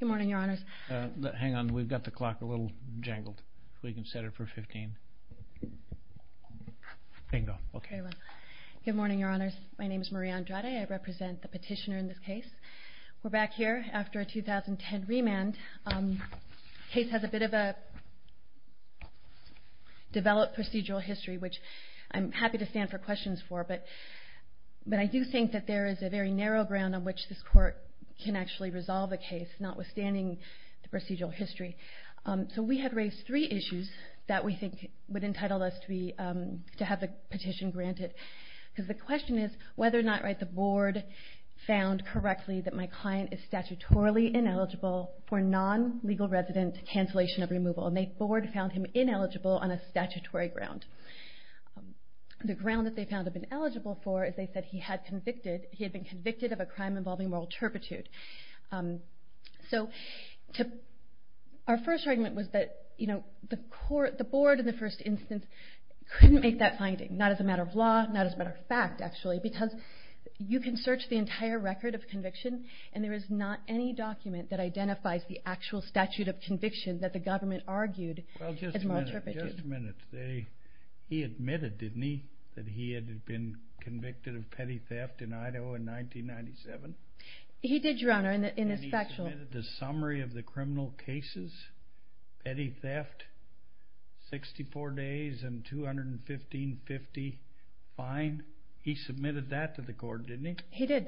Good morning, your honors. Hang on, we've got the clock a little jangled. If we can set it for 15. Bingo. Okay. Good morning, your honors. My name is Marie Andrade. I represent the petitioner in this case. We're back here after a 2010 remand. The case has a bit of a developed procedural history, which I'm happy to stand for questions for. But I do think that there is a very narrow ground on which this court can actually resolve the case, notwithstanding the procedural history. So we have raised three issues that we think would entitle us to have the petition granted. Because the question is whether or not the board found correctly that my client is statutorily ineligible for non-legal resident cancellation of removal. And the board found him ineligible on a statutory ground. The ground that they found him ineligible for is they said he had been convicted of a crime involving moral turpitude. So our first argument was that the board in the first instance couldn't make that finding. Not as a matter of law, not as a matter of fact, actually. Because you can search the entire record of conviction, and there is not any document that identifies the actual statute of conviction that the government argued as moral turpitude. He admitted, didn't he, that he had been convicted of petty theft in Idaho in 1997? He did, Your Honor. And he submitted the summary of the criminal cases, petty theft, 64 days, and 215-50 fine. He submitted that to the court, didn't he? He did.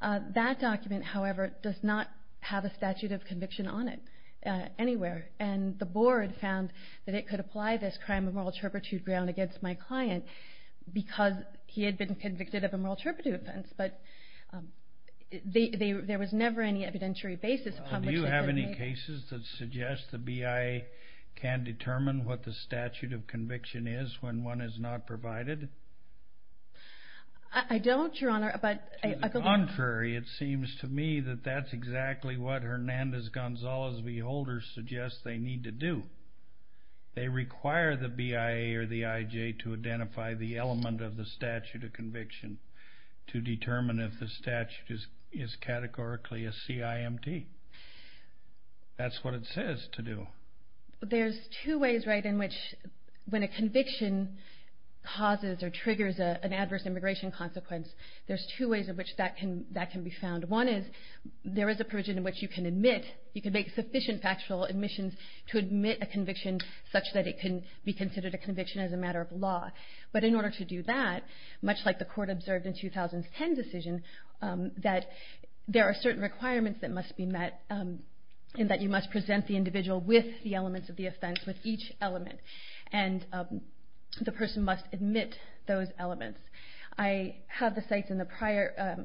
That document, however, does not have a statute of conviction on it anywhere. And the crime of moral turpitude was found against my client because he had been convicted of a moral turpitude offense. But there was never any evidentiary basis published. Do you have any cases that suggest the BIA can determine what the statute of conviction is when one is not provided? I don't, Your Honor. To the contrary, it seems to me that that's exactly what they require the BIA or the IJ to identify the element of the statute of conviction to determine if the statute is categorically a CIMT. That's what it says to do. There's two ways in which when a conviction causes or triggers an adverse immigration consequence, there's two ways in which that can be found. One is there is a provision in which you can make sufficient factual admissions to admit a conviction such that it can be considered a conviction as a matter of law. But in order to do that, much like the court observed in 2010's decision, that there are certain requirements that must be met in that you must present the individual with the elements of the offense, with each element. And the person must admit those elements. I have the sites in the prior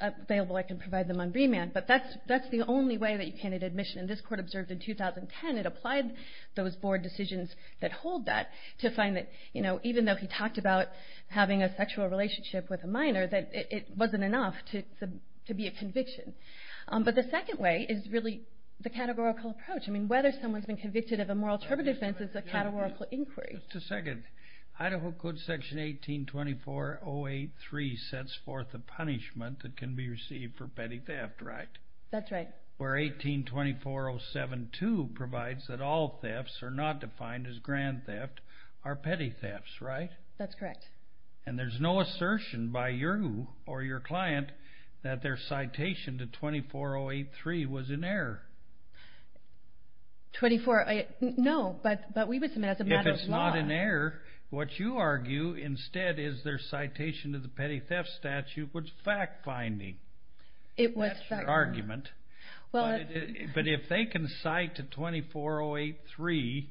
available. I can provide them on BMAN. But that's the only way that you can admit admission. And this court observed in 2010, it applied those board decisions that hold that to find that, you know, even though he talked about having a sexual relationship with a minor, that it wasn't enough to be a conviction. But the second way is really the categorical approach. I mean, whether someone's been convicted of a moral interpretive offense is a categorical inquiry. Just a second. Idaho Code Section 1824083 sets forth a punishment that can be received for petty theft, right? That's right. Where 1824072 provides that all thefts are not defined as grand theft are petty thefts, right? That's correct. And there's no assertion by you or your client that their citation to 24083 was an error. No, but we would submit as a matter of law. If it's not an error, what you argue instead is their citation to the petty theft statute was fact-finding. That's your argument. But if they can cite to 24083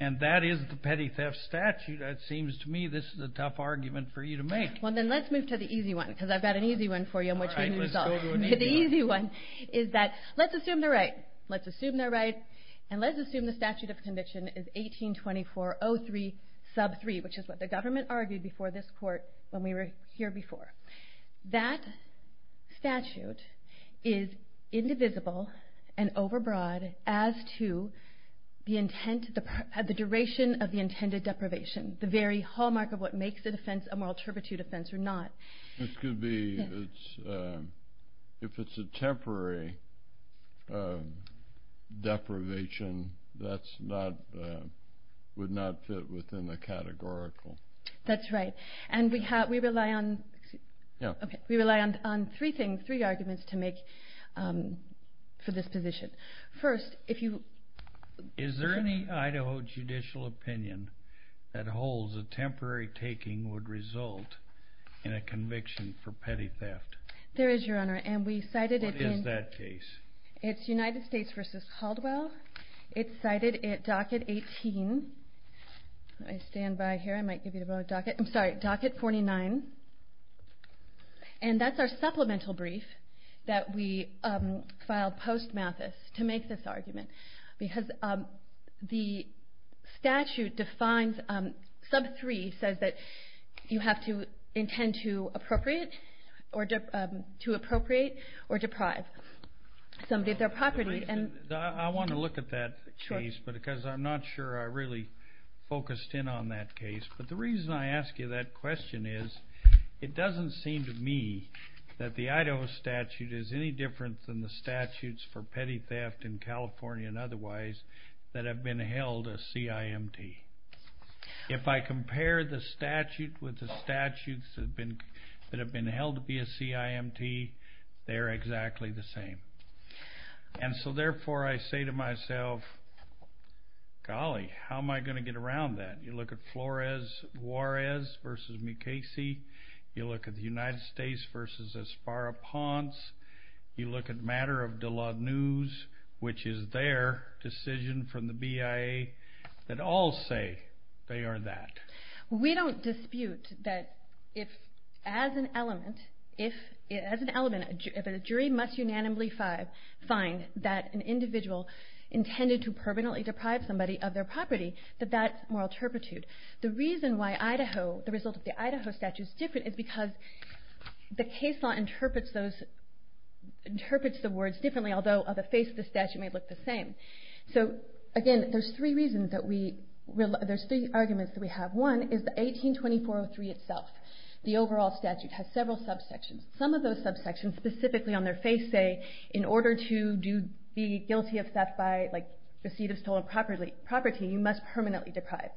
and that is the petty theft statute, it seems to me this is a tough argument for you to make. Well, then let's move to the easy one because I've got an easy one for you. The easy one is that let's assume they're right. Let's assume they're right and let's assume the statute of conviction is 182403 sub 3, which is what the government argued before this court when we were here before. That statute is indivisible and overbroad as to the duration of the intended deprivation, the very hallmark of what makes a moral interpretive offense or not. This could be, if it's a temporary deprivation, that would not fit within the categorical. That's right. And we rely on three things, three arguments to make for this position. First, if you... Is there any Idaho judicial opinion that holds a temporary taking would result in a conviction for petty theft? There is, Your Honor, and we cited it in... What is that case? It's United States v. Caldwell. It's cited at docket 18. Let me stand by here. I might give you the wrong docket. I'm sorry, docket 49. And that's our supplemental brief that we the statute defines... Sub 3 says that you have to intend to appropriate or deprive somebody of their property. I want to look at that case because I'm not sure I really focused in on that case. But the reason I ask you that question is it doesn't seem to me that the Idaho statute is any different than the statutes for petty theft in California and otherwise that have been held a CIMT. If I compare the statute with the statutes that have been held to be a CIMT, they're exactly the same. And so therefore I say to myself, golly, how am I going to get around that? You look at matter of De La Nuz, which is their decision from the BIA, that all say they are that. We don't dispute that as an element, if a jury must unanimously find that an individual intended to permanently deprive somebody of their property, that that's moral turpitude. The reason why Idaho, the result of the Idaho statute, is different is because the case law interprets the words differently, although the face of the statute may look the same. So again, there's three arguments that we have. One is the 18-2403 itself. The overall statute has several subsections. Some of those subsections specifically on their face say, in order to be guilty of theft by receipt of stolen property, you must permanently deprive.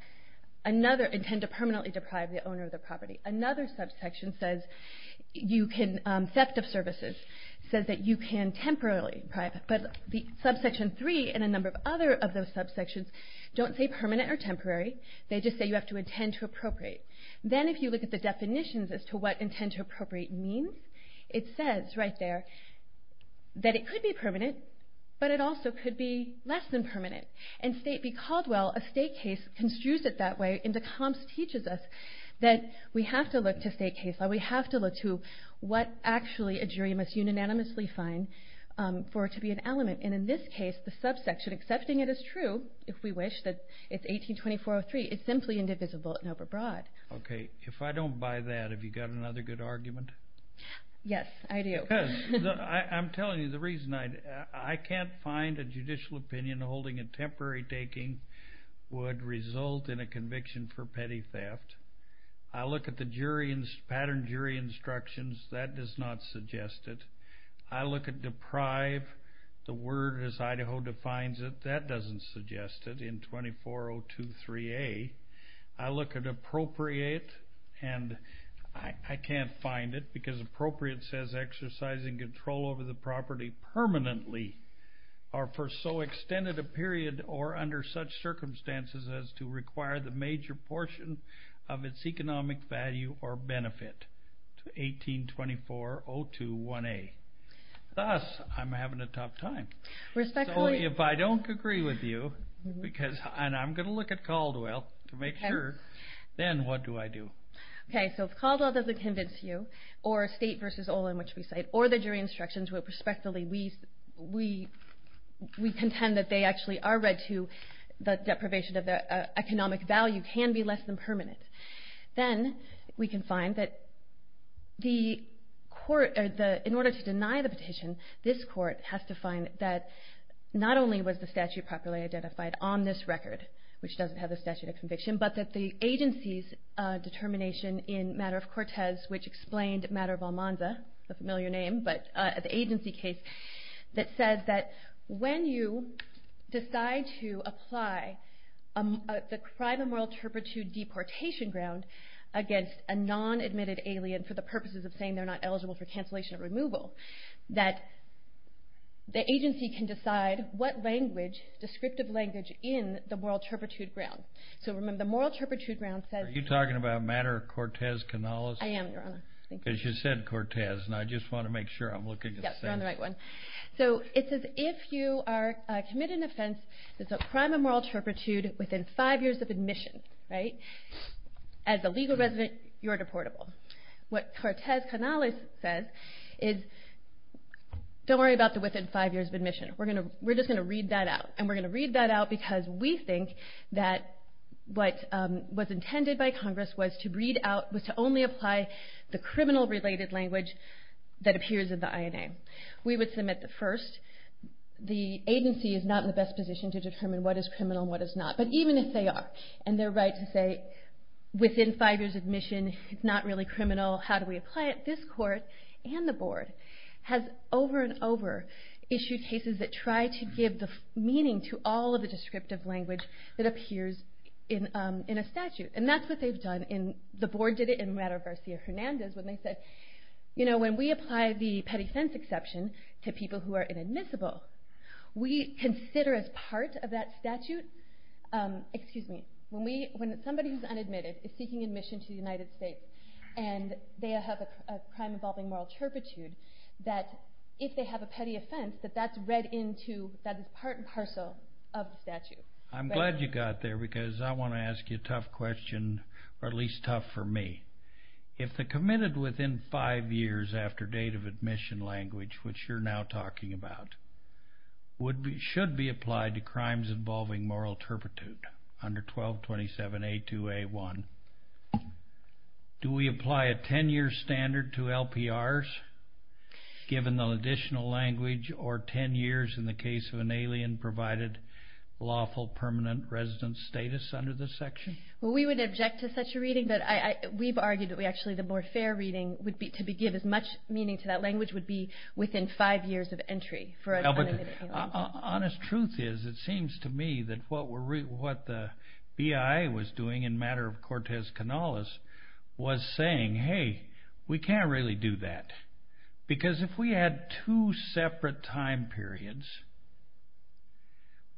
Another, intend to permanently deprive the owner of the property. Another subsection says you can, theft of services, says that you can temporarily deprive. But the subsection three and a number of other of those subsections don't say permanent or temporary. They just say you have to intend to appropriate. Then if you look at the definitions as to what intend to appropriate means, it says right there that it could be permanent, but it can't be temporary. In State v. Caldwell, a state case construes it that way, and the comps teaches us that we have to look to state case law. We have to look to what actually a jury must unanimously find for it to be an element. And in this case, the subsection accepting it as true, if we wish, that it's 18-2403, it's simply indivisible and overbroad. Okay. If I don't buy that, have you got another good argument? Yes, I do. Because I'm telling you, the reason I can't find a judicial opinion holding a temporary taking would result in a conviction for petty theft. I look at the jury and patterned jury instructions, that does not suggest it. I look at deprive, the word as Idaho defines it, that doesn't suggest it in 24-023A. I look at appropriate, and I can't find it because appropriate says exercising control over the property permanently or for so extended a period or under such circumstances as to require the major portion of its economic value or benefit to 18-24021A. Thus, I'm having a tough time. Respectfully... So if I don't agree with you, because... And I'm going to look at Caldwell to make sure, then what do I do? Okay. So if Caldwell doesn't convince you, or State v. Olin, which we cite, or the jury instructions, where respectively we contend that they actually are read to, the deprivation of economic value can be less than permanent. Then we can find that in order to deny the petition, this court has to find that not only was the statute properly identified on this record, which doesn't have the statute of which explained Matter of Almanza, a familiar name, but the agency case that says that when you decide to apply the crime of moral turpitude deportation ground against a non-admitted alien for the purposes of saying they're not eligible for cancellation or removal, that the agency can decide what language, descriptive language, in the moral turpitude ground. So remember, the moral turpitude ground says... Are you talking about Matter of Cortez-Canales? I am, Your Honor. Thank you. Because you said Cortez, and I just want to make sure I'm looking at the same... Yes, you're on the right one. So it says, if you are committed an offense that's a crime of moral turpitude within five years of admission, as a legal resident, you're deportable. What Cortez-Canales says is, don't worry about the within five years of admission. We're just going to read that out. And we're going to read that out because we think that what was intended by Congress was to only apply the criminal related language that appears in the INA. We would submit the first. The agency is not in the best position to determine what is criminal and what is not. But even if they are, and they're right to say, within five years of admission, it's not really criminal. How do we apply it? This court and the board has over and over issued cases that try to give meaning to all of the descriptive language that appears in a statute. And that's what they've done. The board did it in Rato-Varcia-Hernandez when they said, when we apply the petty offense exception to people who are inadmissible, we consider as part of that statute... Excuse me. When somebody who's unadmitted is seeking admission to the United States and they have a crime that's part and parcel of the statute. I'm glad you got there because I want to ask you a tough question, or at least tough for me. If the committed within five years after date of admission language, which you're now talking about, should be applied to crimes involving moral turpitude under 1227A2A1, do we apply a 10-year standard to LPRs given the additional language or 10 years in the case of an alien provided lawful permanent residence status under the section? Well, we would object to such a reading, but we've argued that actually the more fair reading to give as much meaning to that language would be within five years of entry for an unadmitted alien. Honest truth is, it seems to me that what the BIA was doing in matter of separate time periods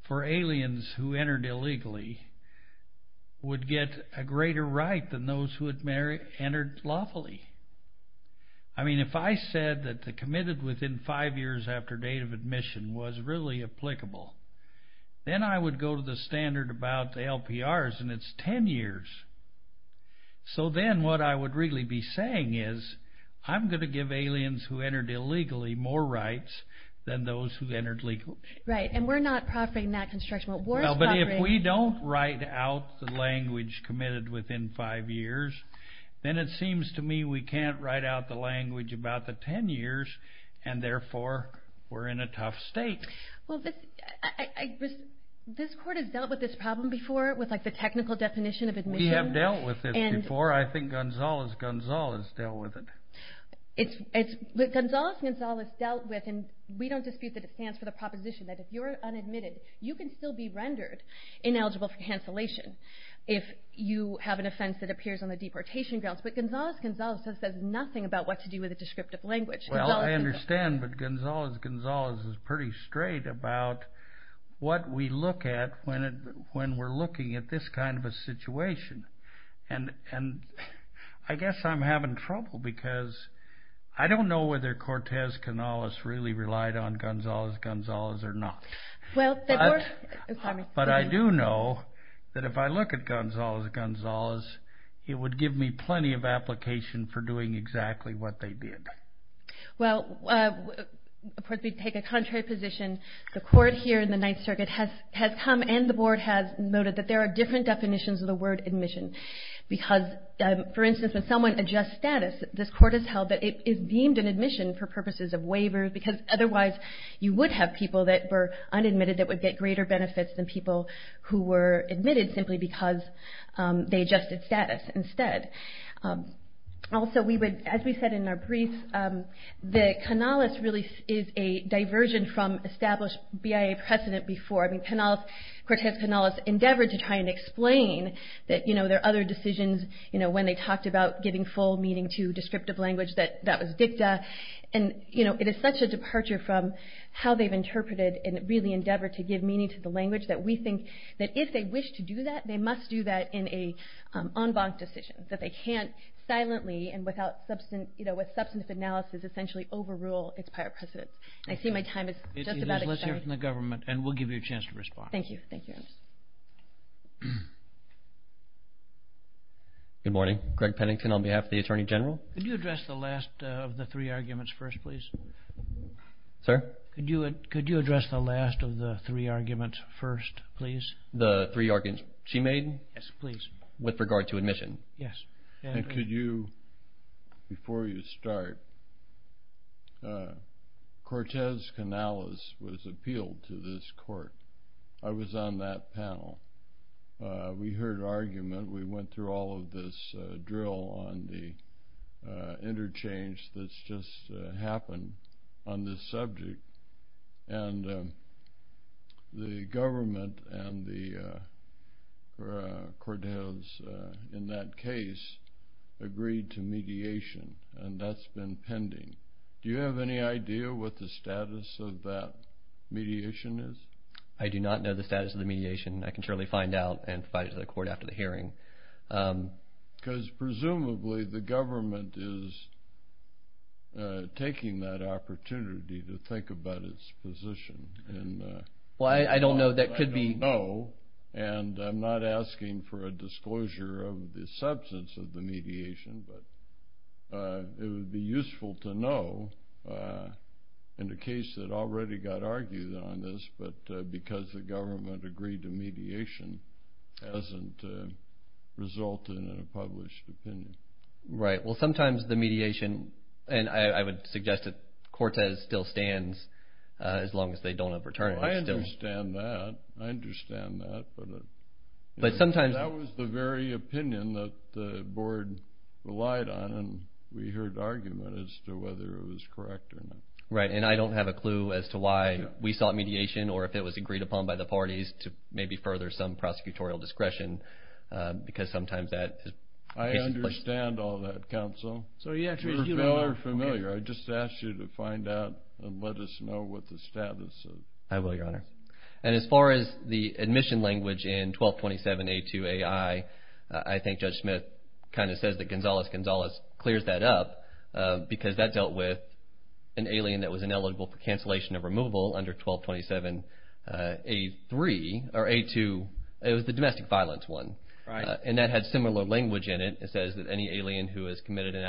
for aliens who entered illegally would get a greater right than those who had entered lawfully. I mean, if I said that the committed within five years after date of admission was really applicable, then I would go to the standard about the LPRs and it's 10 years. So then what I would really be saying is, I'm going to give aliens who entered illegally more rights than those who entered legally. Right, and we're not proffering that construction. But if we don't write out the language committed within five years, then it seems to me we can't write out the language about the 10 years, and therefore we're in a tough state. Well, I guess this court has dealt with this problem before with like the technical definition of admission. We have dealt with it before. I think Gonzalez-Gonzalez dealt with it. Gonzalez-Gonzalez dealt with, and we don't dispute that it stands for the proposition that if you're unadmitted, you can still be rendered ineligible for cancellation if you have an offense that appears on the deportation grounds. But Gonzalez-Gonzalez says nothing about what to do with a descriptive language. Well, I understand, but Gonzalez-Gonzalez is pretty straight about what we look at when we're looking at this kind of a situation. And I guess I'm having trouble because I don't know whether Cortez-Canales really relied on Gonzalez-Gonzalez or not. But I do know that if I look at Gonzalez-Gonzalez, it would give me plenty of application for doing it. The board here in the Ninth Circuit has come, and the board has noted that there are different definitions of the word admission. Because, for instance, when someone adjusts status, this court has held that it is deemed an admission for purposes of waiver because otherwise you would have people that were unadmitted that would get greater benefits than people who were admitted simply because they adjusted status instead. Also, as we said in our brief, that Canales really is a diversion from established BIA precedent before. I mean, Cortez-Canales endeavored to try and explain that there are other decisions when they talked about giving full meaning to descriptive language that was dicta. It is such a departure from how they've interpreted and really endeavored to give meaning to the language that we think that if they wish to do that, they must do that in an en banc decision. That they can't and without substantive analysis essentially overrule its prior precedence. I see my time is just about expired. There's a list here from the government, and we'll give you a chance to respond. Thank you. Good morning. Greg Pennington on behalf of the Attorney General. Could you address the last of the three arguments first, please? Sir? Could you address the last of the three arguments first, please? The three arguments she made? Yes, please. With regard to admission? Yes. And could you, before you start, Cortez-Canales was appealed to this court. I was on that panel. We heard argument. We went through all of this drill on the interchange that's just happened on this subject, and the government and the case agreed to mediation, and that's been pending. Do you have any idea what the status of that mediation is? I do not know the status of the mediation. I can surely find out and provide it to the court after the hearing. Because presumably the government is taking that opportunity to think about its position. Well, I don't know. That could be. And I'm not asking for a disclosure of the substance of the mediation, but it would be useful to know in the case that already got argued on this, but because the government agreed to mediation hasn't resulted in a published opinion. Right. Well, sometimes the mediation, and I would suggest that Cortez still stands as long as they don't have returned. I understand that. I understand that, but that was the very opinion that the board relied on, and we heard argument as to whether it was correct or not. Right, and I don't have a clue as to why we sought mediation or if it was agreed upon by the parties to maybe further some prosecutorial discretion, because sometimes that... I understand all that, counsel. So you actually... You are familiar. I just asked you to find out and let us know what the status of the mediation was. I will, Your Honor. And as far as the admission language in 1227A2AI, I think Judge Smith kind of says that Gonzales-Gonzales clears that up because that dealt with an alien that was ineligible for cancellation of removal under 1227A3 or A2. It was the domestic violence one. Right. And that had similar language in it. It says that any alien who has committed an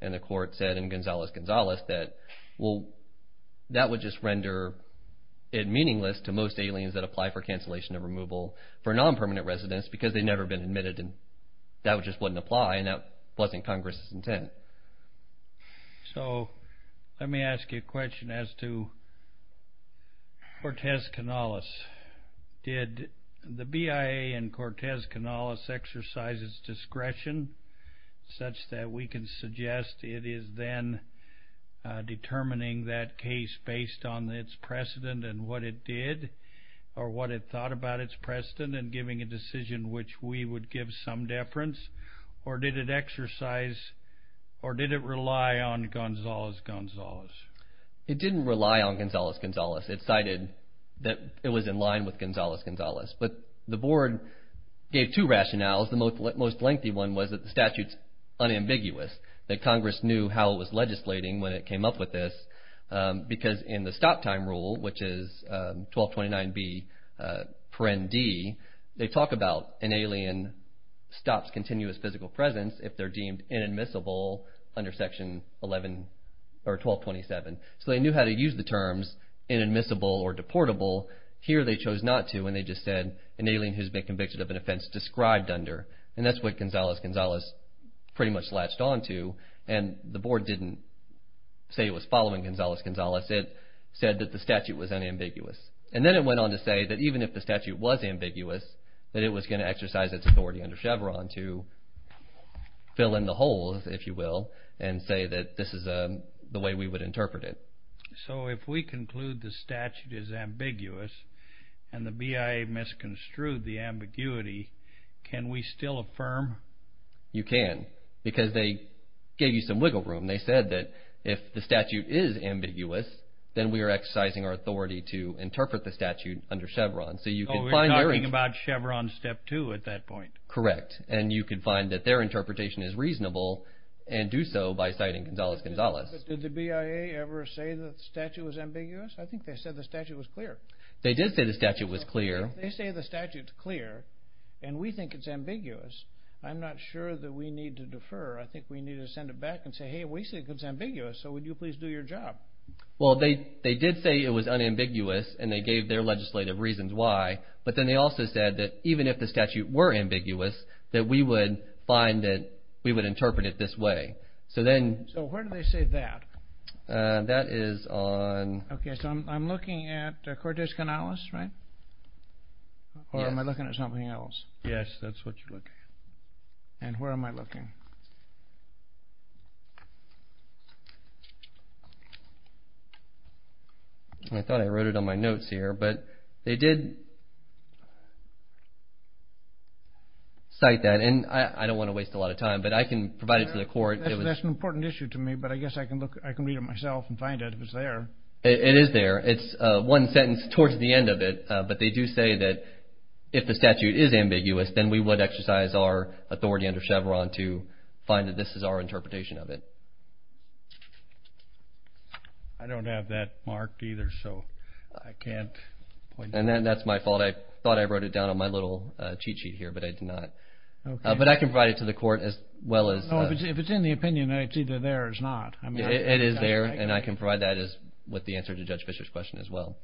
and the court said in Gonzales-Gonzales that will... That would just render it meaningless to most aliens that apply for cancellation of removal for non-permanent residents because they've never been admitted, and that just wouldn't apply, and that wasn't Congress's intent. So let me ask you a question as to Cortez-Canales. Did the BIA and Cortez-Canales exercise its decision, or did it rely on Gonzales-Gonzales? It didn't rely on Gonzales-Gonzales. It cited that it was in line with Gonzales-Gonzales, but the board gave two rationales. The most ambiguous that Congress knew how it was legislating when it came up with this because in the stop time rule, which is 1229B, they talk about an alien stops continuous physical presence if they're deemed inadmissible under section 11 or 1227. So they knew how to use the terms inadmissible or deportable. Here they chose not to, and they just said an alien who's been latched onto, and the board didn't say it was following Gonzales-Gonzales. It said that the statute was unambiguous, and then it went on to say that even if the statute was ambiguous, that it was going to exercise its authority under Chevron to fill in the holes, if you will, and say that this is the way we would interpret it. So if we conclude the statute is ambiguous and the BIA misconstrued the ambiguity, can we still affirm? You can, because they gave you some wiggle room. They said that if the statute is ambiguous, then we are exercising our authority to interpret the statute under Chevron. So you could find... Oh, we're talking about Chevron step two at that point. Correct, and you could find that their interpretation is reasonable and do so by citing Gonzales-Gonzales. Did the BIA ever say that the statute was ambiguous? I did say the statute was clear. They say the statute's clear, and we think it's ambiguous. I'm not sure that we need to defer. I think we need to send it back and say, hey, we think it's ambiguous, so would you please do your job? Well, they did say it was unambiguous, and they gave their legislative reasons why, but then they also said that even if the statute were ambiguous, that we would find that we would interpret it this way. So then... So where do they say that? That is on... Okay, so I'm looking at Cortez-Gonzales, right? Or am I looking at something else? Yes, that's what you're looking at. And where am I looking? I thought I wrote it on my notes here, but they did cite that, and I don't want to waste a lot of time, but I can provide it to the court. That's an important issue to me, but I guess I can read it myself and find out if it's there. It is there. It's one sentence towards the end of it, but they do say that if the statute is ambiguous, then we would exercise our authority under Chevron to find that this is our interpretation of it. I don't have that marked either, so I can't... And then that's my fault. I thought I wrote it down on my little cheat sheet here, but I did not. But I can provide it to the court as well as... If it's in the opinion, it's either there or it's not. It is there, and I can provide that as with the answer to Judge Fischer's question as well.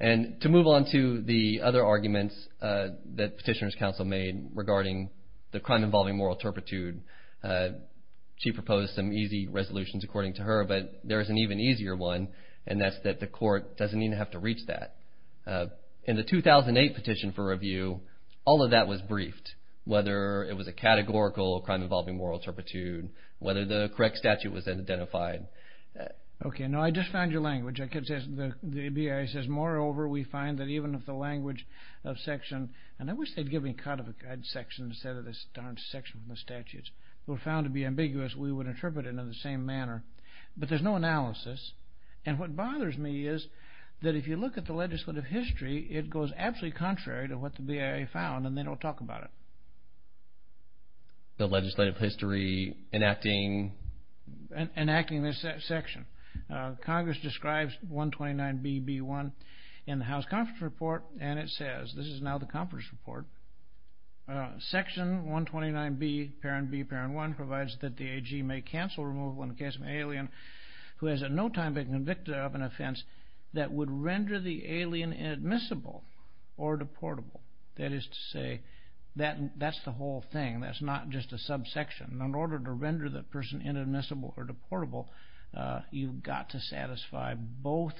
And to move on to the other arguments that Petitioner's Counsel made regarding the crime involving moral turpitude, she proposed some easy resolutions according to her, but there is an even easier one, and that's that the court doesn't even have to reach that. In the 2008 petition for review, all of that was briefed, whether it was a categorical crime involving moral turpitude, whether the correct statute was then identified. Okay. No, I just found your language. The BIA says, moreover, we find that even if the language of section... And I wish they'd give me a cut of a section instead of this darn section from the statutes. If it were found to be ambiguous, we would interpret it in the same manner. But there's no analysis, and what bothers me is that if you look at the legislative history, it goes absolutely contrary to what the BIA found, and they don't talk about it. The legislative history enacting... Enacting this section. Congress describes 129B-B-1 in the House Conference Report, and it says, this is now the Conference Report, section 129B, parent B, parent 1, provides that the AG may cancel removal in the case of an alien who has at no time been convicted of an offense that would render the alien inadmissible or deportable. That is to say, that's the whole thing. That's not just a subsection. In order to render the person inadmissible or deportable, you've got to satisfy both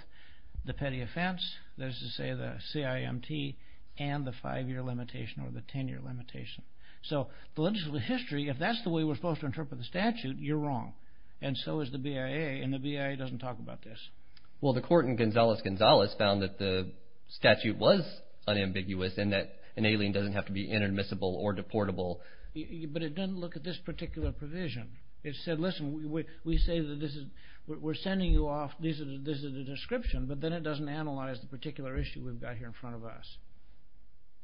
the petty offense, that is to say the CIMT, and the five-year limitation or the 10-year limitation. So the legislative history, if that's the way we're supposed to interpret the statute, you're wrong, and so is the BIA, and the BIA doesn't talk about this. Well, the court in Gonzales-Gonzales found that the statute was unambiguous and that an alien doesn't have to be inadmissible or deportable. But it doesn't look at this particular provision. It said, listen, we say that this is... We're sending you off... This is a description, but then it doesn't analyze the particular issue we've got here in front of us.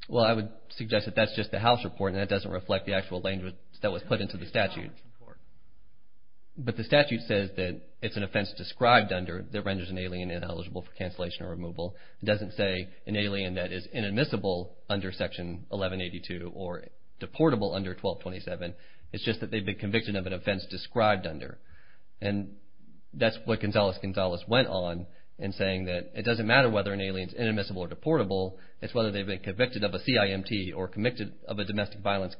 Well, I would suggest that that's just the House Report, and that doesn't reflect the actual language that was put into the statute. But the statute says that it's an offense described under that renders an alien ineligible for cancellation or removal. It doesn't say an alien that is inadmissible under Section 1182 or deportable under 1227. It's just that they've been convicted of an offense described under. And that's what Gonzales-Gonzales went on in saying that it doesn't matter whether an alien is inadmissible or deportable. It's whether they've been convicted of a CIMT or convicted of a domestic violence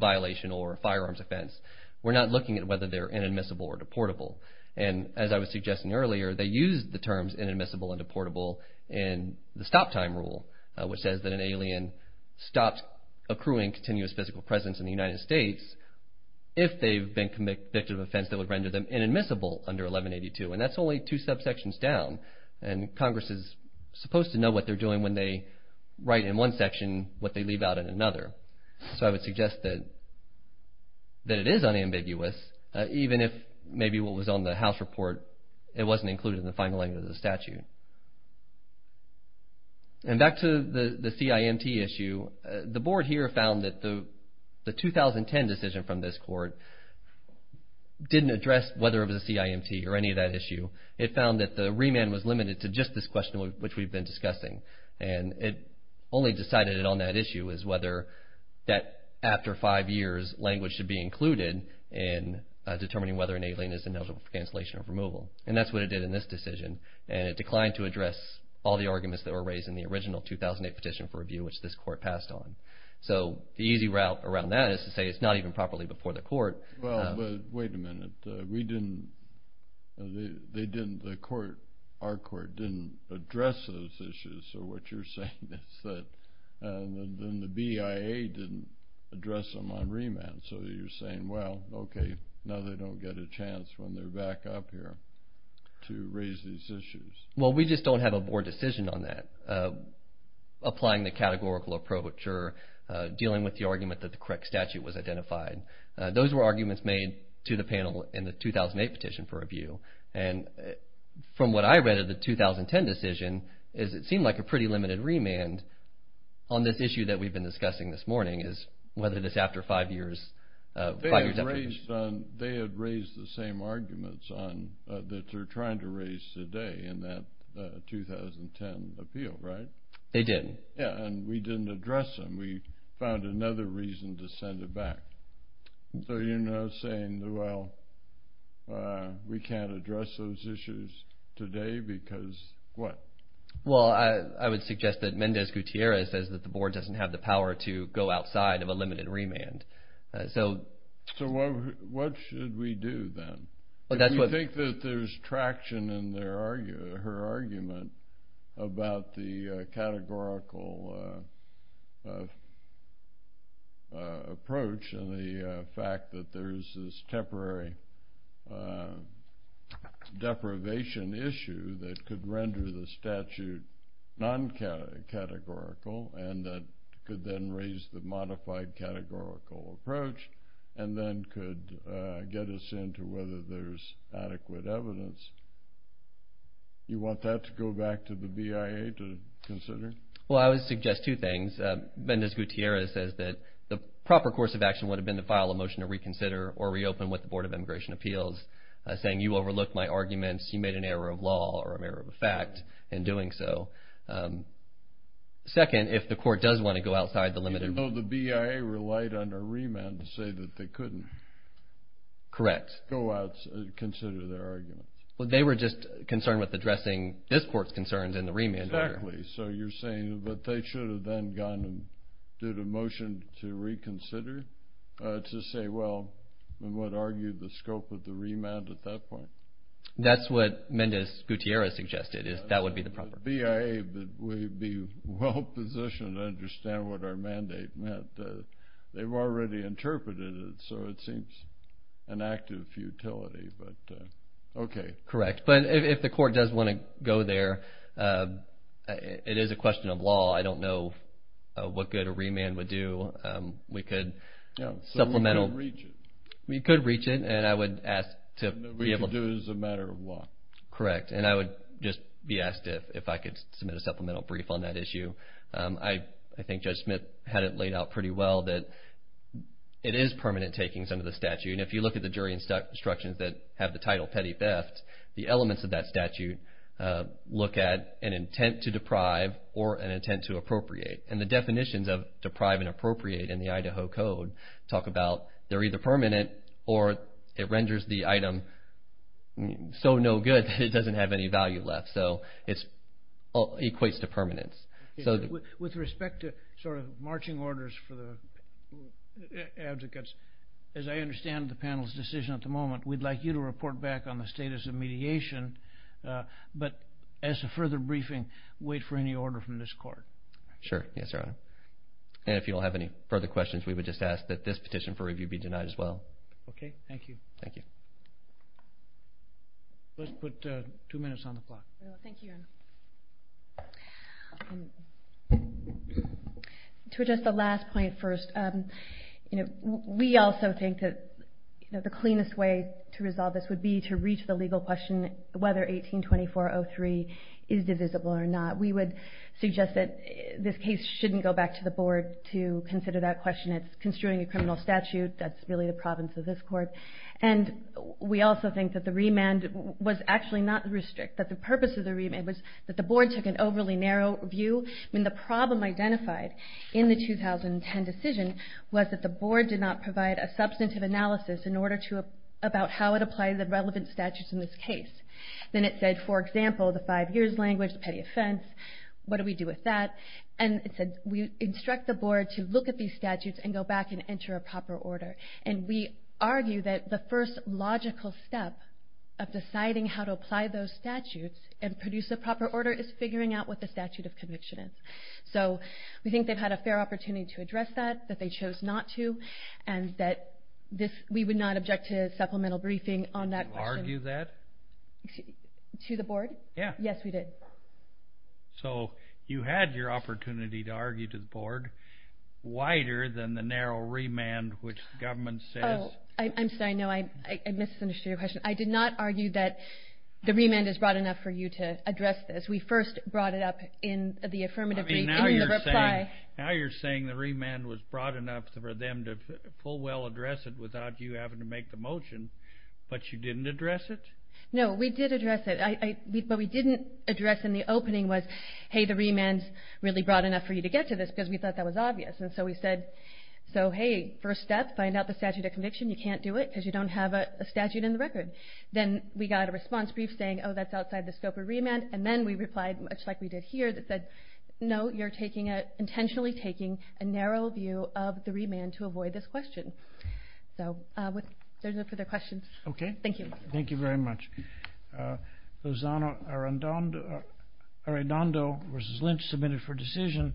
violation or firearms offense. We're not looking at whether they're inadmissible or deportable. And as I was suggesting earlier, they use the terms inadmissible and deportable in the stop time rule, which says that an alien stops accruing continuous physical presence in the United States if they've been convicted of an offense that would render them inadmissible under 1182. And that's only two subsections down. And Congress is supposed to what they're doing when they write in one section what they leave out in another. So, I would suggest that it is unambiguous, even if maybe what was on the House report, it wasn't included in the final language of the statute. And back to the CIMT issue, the Board here found that the 2010 decision from this Court didn't address whether it was a CIMT or any of that issue. It found that the remand was indiscussing. And it only decided on that issue is whether that after five years language should be included in determining whether an alien is ineligible for cancellation or removal. And that's what it did in this decision. And it declined to address all the arguments that were raised in the original 2008 petition for review, which this Court passed on. So, the easy route around that is to say it's not even properly before the Court. Well, but wait a minute. We didn't, they didn't, the Court, our Court didn't address those issues. So, what you're saying is that the BIA didn't address them on remand. So, you're saying, well, okay, now they don't get a chance when they're back up here to raise these issues. Well, we just don't have a Board decision on that. Applying the categorical approach or to the panel in the 2008 petition for review. And from what I read of the 2010 decision, is it seemed like a pretty limited remand on this issue that we've been discussing this morning is whether this after five years. They had raised the same arguments that they're trying to raise today in that 2010 appeal, right? They did. Yeah. And we didn't address them. We found another reason to send it back. So, you're now saying, well, we can't address those issues today because what? Well, I would suggest that Mendez Gutierrez says that the Board doesn't have the power to go outside of a limited remand. So. So, what should we do then? Well, that's what. I think that there's traction in her argument about the categorical approach and the fact that there's this temporary deprivation issue that could render the statute non-categorical and that could then raise the evidence. You want that to go back to the BIA to consider? Well, I would suggest two things. Mendez Gutierrez says that the proper course of action would have been to file a motion to reconsider or reopen with the Board of Immigration Appeals saying, you overlooked my arguments. You made an error of law or an error of fact in doing so. Second, if the court does want to go outside the limit. Even though the BIA relied on a remand to say that they couldn't. Correct. Consider their arguments. Well, they were just concerned with addressing this court's concerns in the remand. Exactly. So, you're saying that they should have then gone and did a motion to reconsider to say, well, we would argue the scope of the remand at that point. That's what Mendez Gutierrez suggested is that would be the proper. BIA would be well positioned to understand what our mandate meant. They've already interpreted it, so it seems an act of futility, but okay. Correct. But if the court does want to go there, it is a question of law. I don't know what good a remand would do. We could supplemental. We could reach it. We could reach it and I would ask to be able to. We could do it as a matter of law. Correct. And I would just be asked if I could submit a supplemental brief on that issue. I think Judge Smith had it laid out pretty well that it is permanent takings under the statute. And if you look at the jury instructions that have the title petty theft, the elements of that statute look at an intent to deprive or an intent to appropriate. And the definitions of deprive and appropriate in the Idaho Code talk about they're either permanent or it renders the item so no good that it doesn't have any value left. It equates to permanence. With respect to marching orders for the advocates, as I understand the panel's decision at the moment, we'd like you to report back on the status of mediation, but as a further briefing, wait for any order from this court. Sure. Yes, Your Honor. And if you don't have any further questions, we would just ask that this petition for review be denied as well. Okay. Thank you. Thank you. Let's put two minutes on the clock. Thank you, Your Honor. To address the last point first, we also think that the cleanest way to resolve this would be to reach the legal question whether 18-2403 is divisible or not. We would suggest that this case shouldn't go back to the board to consider that question. It's construing a criminal statute. That's really the province of this court. And we also think that the remand was actually not restricted. The purpose of the remand was that the board took an overly narrow view. The problem identified in the 2010 decision was that the board did not provide a substantive analysis about how it applied the relevant statutes in this case. Then it said, for example, the five years language, petty offense, what do we do with that? And it said, we instruct the board to look at these statutes and go back and enter a proper order. And we argue that the first logical step of deciding how to apply those statutes and produce a proper order is figuring out what the statute of conviction is. So we think they've had a fair opportunity to address that, that they chose not to, and that we would not object to supplemental briefing on that. Did you argue that? To the board? Yeah. So you had your opportunity to argue to the board wider than the narrow remand, which the government says. Oh, I'm sorry. No, I misunderstood your question. I did not argue that the remand is broad enough for you to address this. We first brought it up in the affirmative brief, in the reply. Now you're saying the remand was broad enough for them to full well address it without you having to make the motion, but you didn't address it? No, we did address it. What we didn't address in the opening was, hey, the remand's really broad enough for you to get to this because we thought that was obvious. And so we said, so hey, first step, find out the statute of conviction. You can't do it because you don't have a statute in the record. Then we got a response brief saying, oh, that's outside the scope of remand. And then we replied, much like we did here, that said, no, you're intentionally taking a narrow view of the remand to avoid this question. So there's no further questions. Okay. Thank you. Thank you very much. Thank you. Lozano Arredondo versus Lynch submitted for decision.